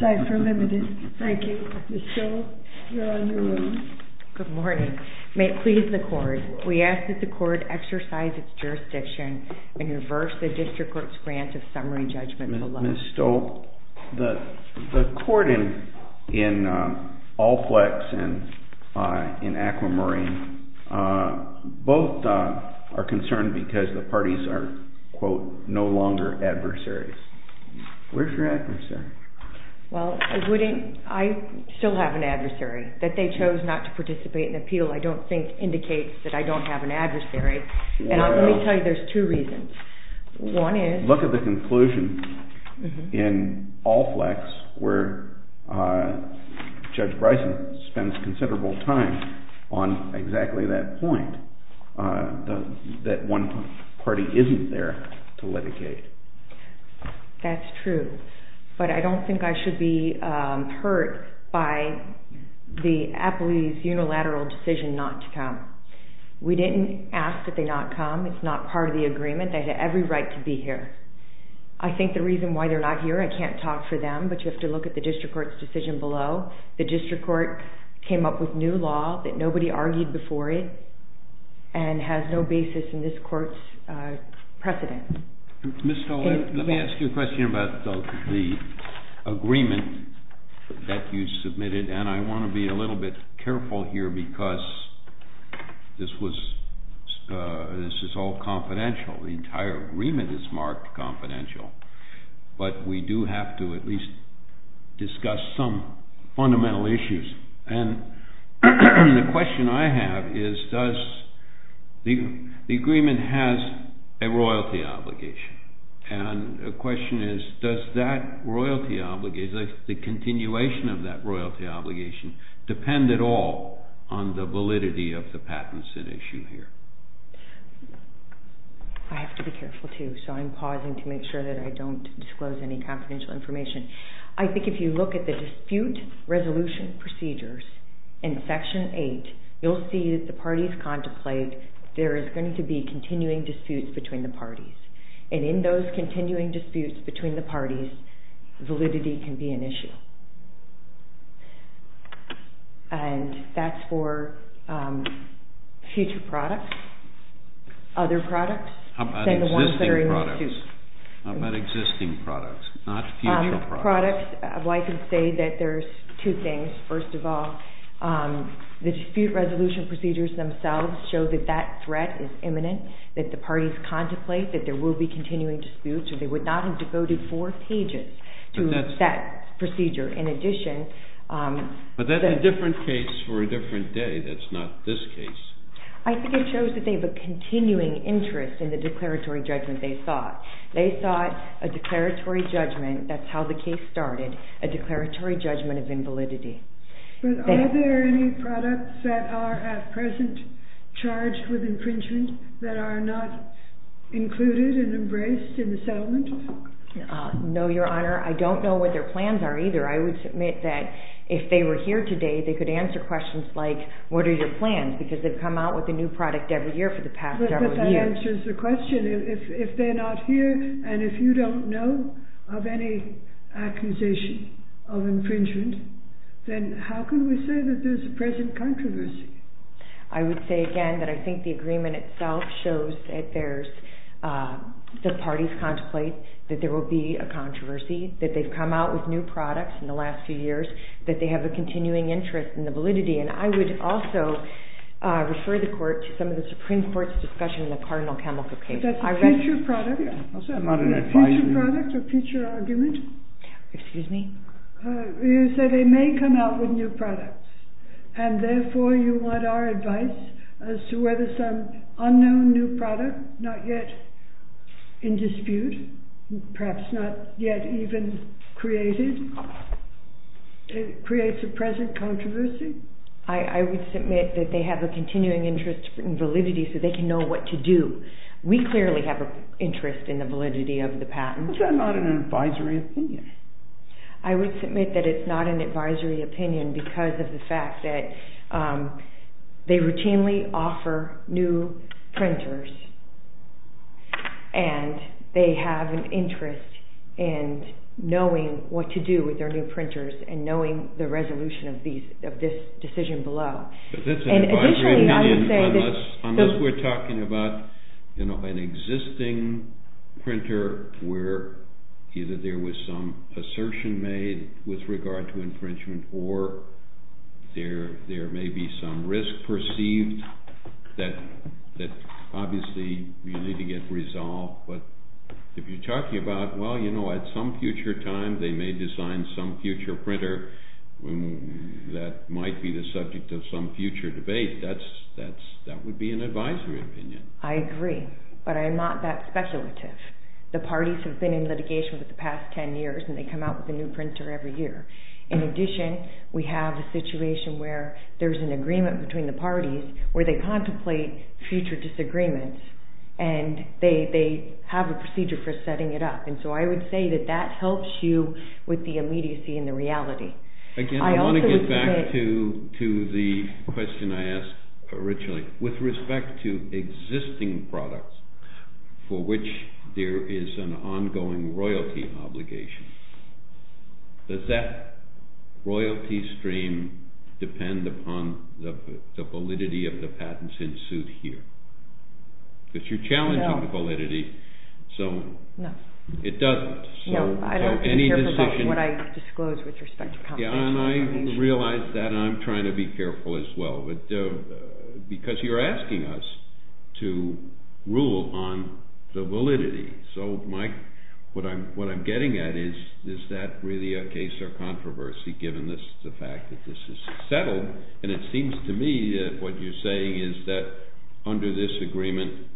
ZIPER LTD. Thank you, Ms. Stolz. You're on your own. Good morning. May it please the Court, we ask that the Court exercise its jurisdiction and reverse the District Court's grant of summary judgment below. Ms. Stolz, the Court in Alplex and in Aquamarine, both are concerned because the parties are quote, no longer adversaries. Where's your adversary? Well, I still have an adversary. That they chose not to participate in an appeal I don't think indicates that I don't have an adversary. And let me tell you, there's two reasons. One is... Look at the conclusion in Alplex where Judge Bryson spends considerable time on exactly that point, that one party isn't there to litigate. That's true. But I don't think I should be hurt by the Apley's unilateral decision not to come. We didn't ask that they not come. It's not part of the agreement. They have every right to be here. I think the reason why they're not here, I can't talk for them, but you have to look at the District Court's decision below. The District Court came up with new law that nobody argued before it and has no basis in this Court's precedent. Ms. Stolz, let me ask you a question about the agreement that you submitted. And I want to be a little bit careful here because this is all confidential. The entire agreement is marked confidential. But we do have to at least discuss some fundamental issues. And the question I have is, does... The agreement has a royalty obligation. And the question is, does that royalty obligation, the continuation of that royalty obligation, depend at all on the validity of the patents at issue here? I have to be careful too, so I'm pausing to make sure that I don't disclose any confidential information. I think if you look at the dispute resolution procedures in Section 8, you'll see that the parties contemplate there is going to be continuing disputes between the parties. And in those continuing disputes between the parties, validity can be an issue. And that's for future products, other products, and the ones that are in dispute. What about existing products, not future products? Products, well, I can say that there's two things. First of all, the dispute resolution procedures themselves show that that threat is imminent, that the parties contemplate that there will be continuing disputes, or they would not have devoted four pages to that procedure. In addition... But that's a different case for a different day. That's not this case. I think it shows that they have a continuing interest in the declaratory judgment they sought. They sought a declaratory judgment, that's how the case started, a declaratory judgment of invalidity. But are there any products that are at present charged with infringement that are not included and embraced in the settlement? No, Your Honor. I don't know what their plans are either. I would submit that if they were here today, they could answer questions like, what are your plans? Because they've come out with a new product every year for the past several years. But that answers the question. If they're not here, and if you don't know of any accusation of infringement, then how can we say that there's a present controversy? I would say again that I think the agreement itself shows that the parties contemplate that there will be a controversy, that they've come out with new products in the last few years, and that there's a continuing interest in the validity. And I would also refer the Court to some of the Supreme Court's discussion in the Cardinal Campbell case. But that's a future product. I'll say I'm not an advisor. A future product, a future argument. Excuse me? You say they may come out with new products, and therefore you want our advice as to whether some unknown new product, not yet in dispute, perhaps not yet even created, creates a present controversy? I would submit that they have a continuing interest in validity so they can know what to do. We clearly have an interest in the validity of the patent. But that's not an advisory opinion. I would submit that it's not an advisory opinion because of the fact that they routinely offer new printers, and they have an interest in knowing what to do with their new printers and knowing the resolution of this decision below. But that's an advisory opinion unless we're talking about an existing printer where either there was some assertion made with regard to infringement, or there may be some risk perceived that obviously you need to get resolved. But if you're talking about, well, you know, at some future time they may design some future printer that might be the subject of some future debate, that would be an advisory opinion. I agree, but I'm not that speculative. The parties have been in litigation for the past ten years, and they come out with a new printer every year. In addition, we have a situation where there's an agreement between the parties where they contemplate future disagreements, and they have a procedure for setting it up. And so I would say that that helps you with the immediacy and the reality. Again, I want to get back to the question I asked originally. With respect to existing products for which there is an ongoing royalty obligation, does that royalty stream depend upon the validity of the patents ensued here? Because you're challenging the validity, so it doesn't. No, I don't care about what I disclose with respect to competition. Yeah, and I realize that, and I'm trying to be careful as well. Because you're asking us to rule on the validity. So, Mike, what I'm getting at is, is that really a case of controversy, given the fact that this is settled. And it seems to me that what you're saying is that under this agreement,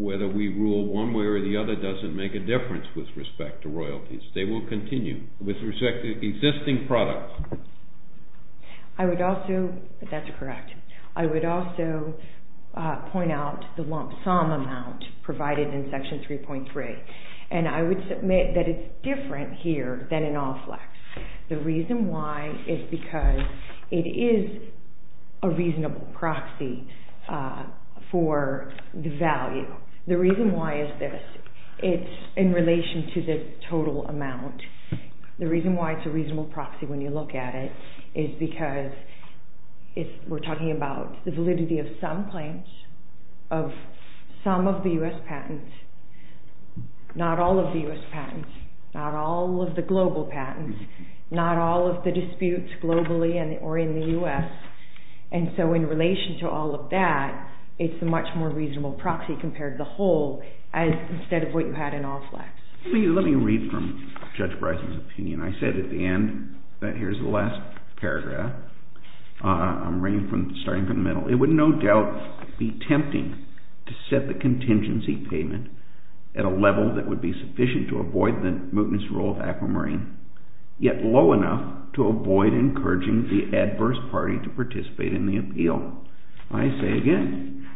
whether we rule one way or the other doesn't make a difference with respect to royalties. They will continue with respect to existing products. That's correct. I would also point out the lump sum amount provided in Section 3.3. And I would submit that it's different here than in OFLEX. The reason why is because it is a reasonable proxy for the value. The reason why is this. It's in relation to the total amount. The reason why it's a reasonable proxy when you look at it is because we're talking about the validity of some claims, of some of the U.S. patents, not all of the U.S. patents, not all of the global patents, not all of the disputes globally or in the U.S. And so in relation to all of that, it's a much more reasonable proxy compared to the whole, instead of what you had in OFLEX. Let me read from Judge Bryson's opinion. I said at the end that here's the last paragraph. I'm starting from the middle. It would no doubt be tempting to set the contingency payment at a level that would be sufficient to avoid the mootness rule of Aquamarine, yet low enough to avoid encouraging the adverse party to participate in the appeal. I say again,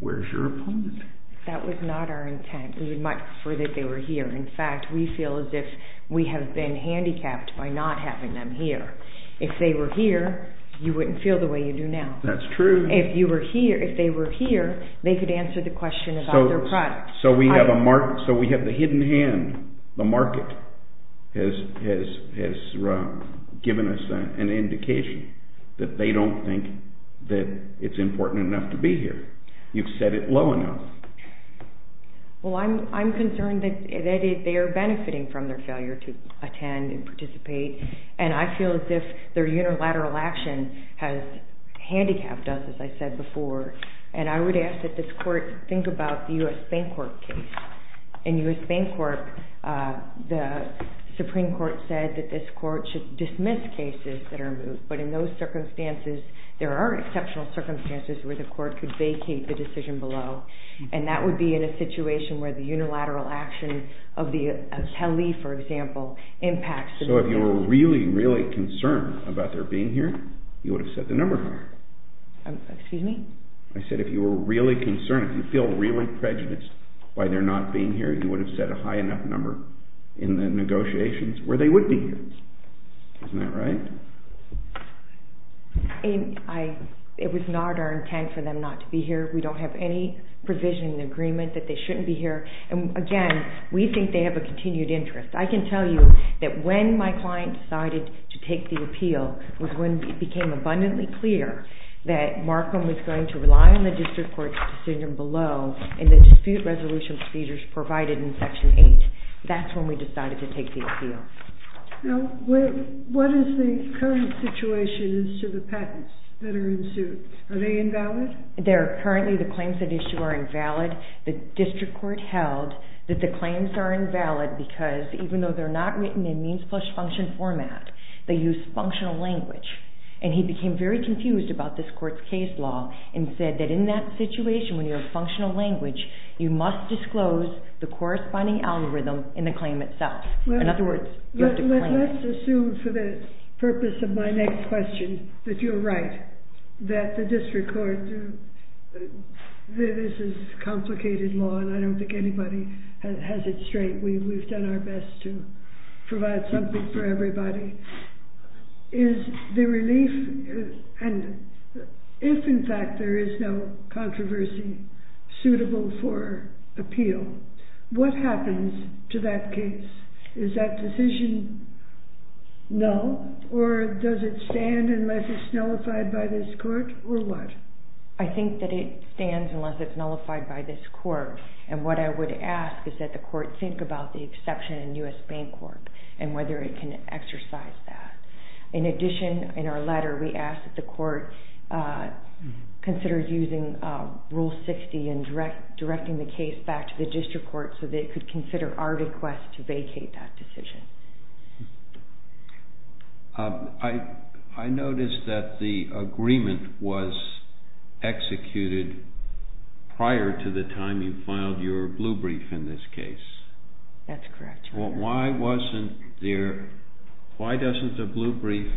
where's your opponent? That was not our intent. We would much prefer that they were here. In fact, we feel as if we have been handicapped by not having them here. If they were here, you wouldn't feel the way you do now. That's true. If they were here, they could answer the question about their product. So we have the hidden hand. The market has given us an indication that they don't think that it's important enough to be here. You've set it low enough. I'm concerned that they are benefiting from their failure to attend and participate. I feel as if their unilateral action has handicapped us, as I said before. I would ask that this court think about the U.S. Bancorp case. In U.S. Bancorp, the Supreme Court said that this court should dismiss cases that are moved. But in those circumstances, there are exceptional circumstances where the court could vacate the decision below. And that would be in a situation where the unilateral action of the Attali, for example, impacts the decision. So if you were really, really concerned about their being here, you would have set the number higher. Excuse me? I said if you were really concerned, if you feel really prejudiced by their not being here, you would have set a high enough number in the negotiations where they would be here. Isn't that right? It was not our intent for them not to be here. We don't have any provision in the agreement that they shouldn't be here. And again, we think they have a continued interest. I can tell you that when my client decided to take the appeal was when it became abundantly clear that Markham was going to rely on the district court's decision below and the dispute resolution procedures provided in Section 8. That's when we decided to take the appeal. Now, what is the current situation as to the patents that are in suit? Are they invalid? Currently, the claims at issue are invalid. The district court held that the claims are invalid because even though they're not written in means plus function format, they use functional language. And he became very confused about this court's case law and said that in that situation, when you have functional language, you must disclose the corresponding algorithm in the claim itself. In other words, you have to claim it. Let's assume for the purpose of my next question that you're right, that the district court, this is complicated law and I don't think anybody has it straight. We've done our best to provide something for everybody. If in fact there is no controversy suitable for appeal, what happens to that case? Is that decision null or does it stand unless it's nullified by this court or what? I think that it stands unless it's nullified by this court. And what I would ask is that the court think about the exception in U.S. Bancorp and whether it can exercise that. In addition, in our letter, we ask that the court consider using Rule 60 and directing the case back to the district court so they could consider our request to vacate that decision. I noticed that the agreement was executed prior to the time you filed your blue brief in this case. That's correct. Why doesn't the blue brief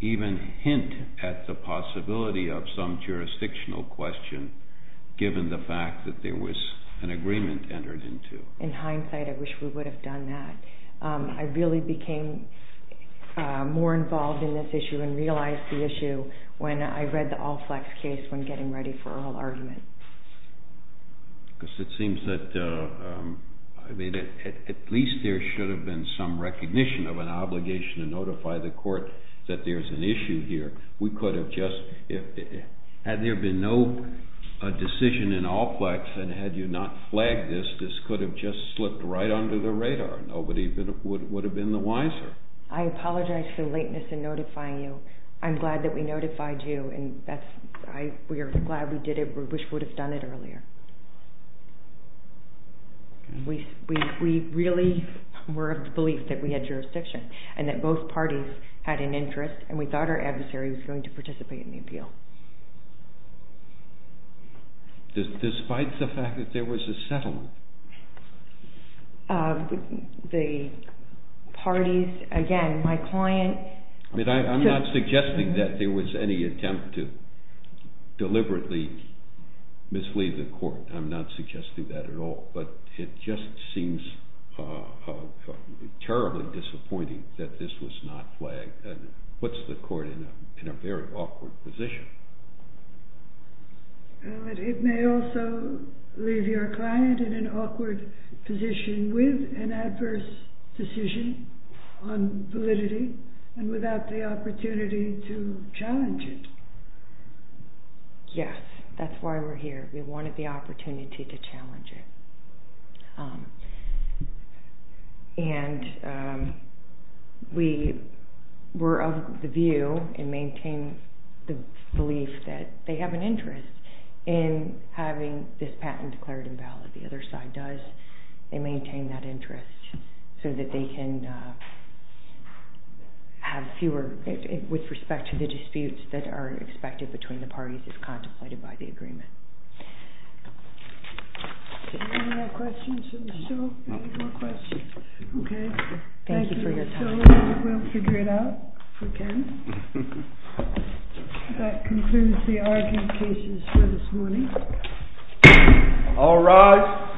even hint at the possibility of some jurisdictional question given the fact that there was an agreement entered into? In hindsight, I wish we would have done that. I really became more involved in this issue and realized the issue when I read the Allplex case when getting ready for oral argument. At least there should have been some recognition of an obligation to notify the court that there's an issue here. Had there been no decision in Allplex and had you not flagged this, this would have just slipped right under the radar. Nobody would have been the wiser. I apologize for the lateness in notifying you. I'm glad that we notified you and we are glad we did it. We wish we would have done it earlier. We really were of the belief that we had jurisdiction and that both parties had an interest and we thought our adversary was going to participate in the appeal. Despite the fact that there was a settlement? The parties, again, my client... I'm not suggesting that there was any attempt to deliberately mislead the court. I'm not suggesting that at all, but it just seems terribly disappointing that this was not flagged and puts the court in a very awkward position. It may also leave your client in an awkward position with an adverse decision on validity and without the opportunity to challenge it. Yes, that's why we're here. We wanted the opportunity to challenge it. We were of the view and maintain the belief that they have an interest in having this patent declared invalid. The other side does. They maintain that interest so that they can have fewer, with respect to the disputes that are expected between the parties as contemplated by the agreement. Any more questions for the show? Thank you for your time. We'll figure it out if we can. That concludes the argumentations for this morning. All rise.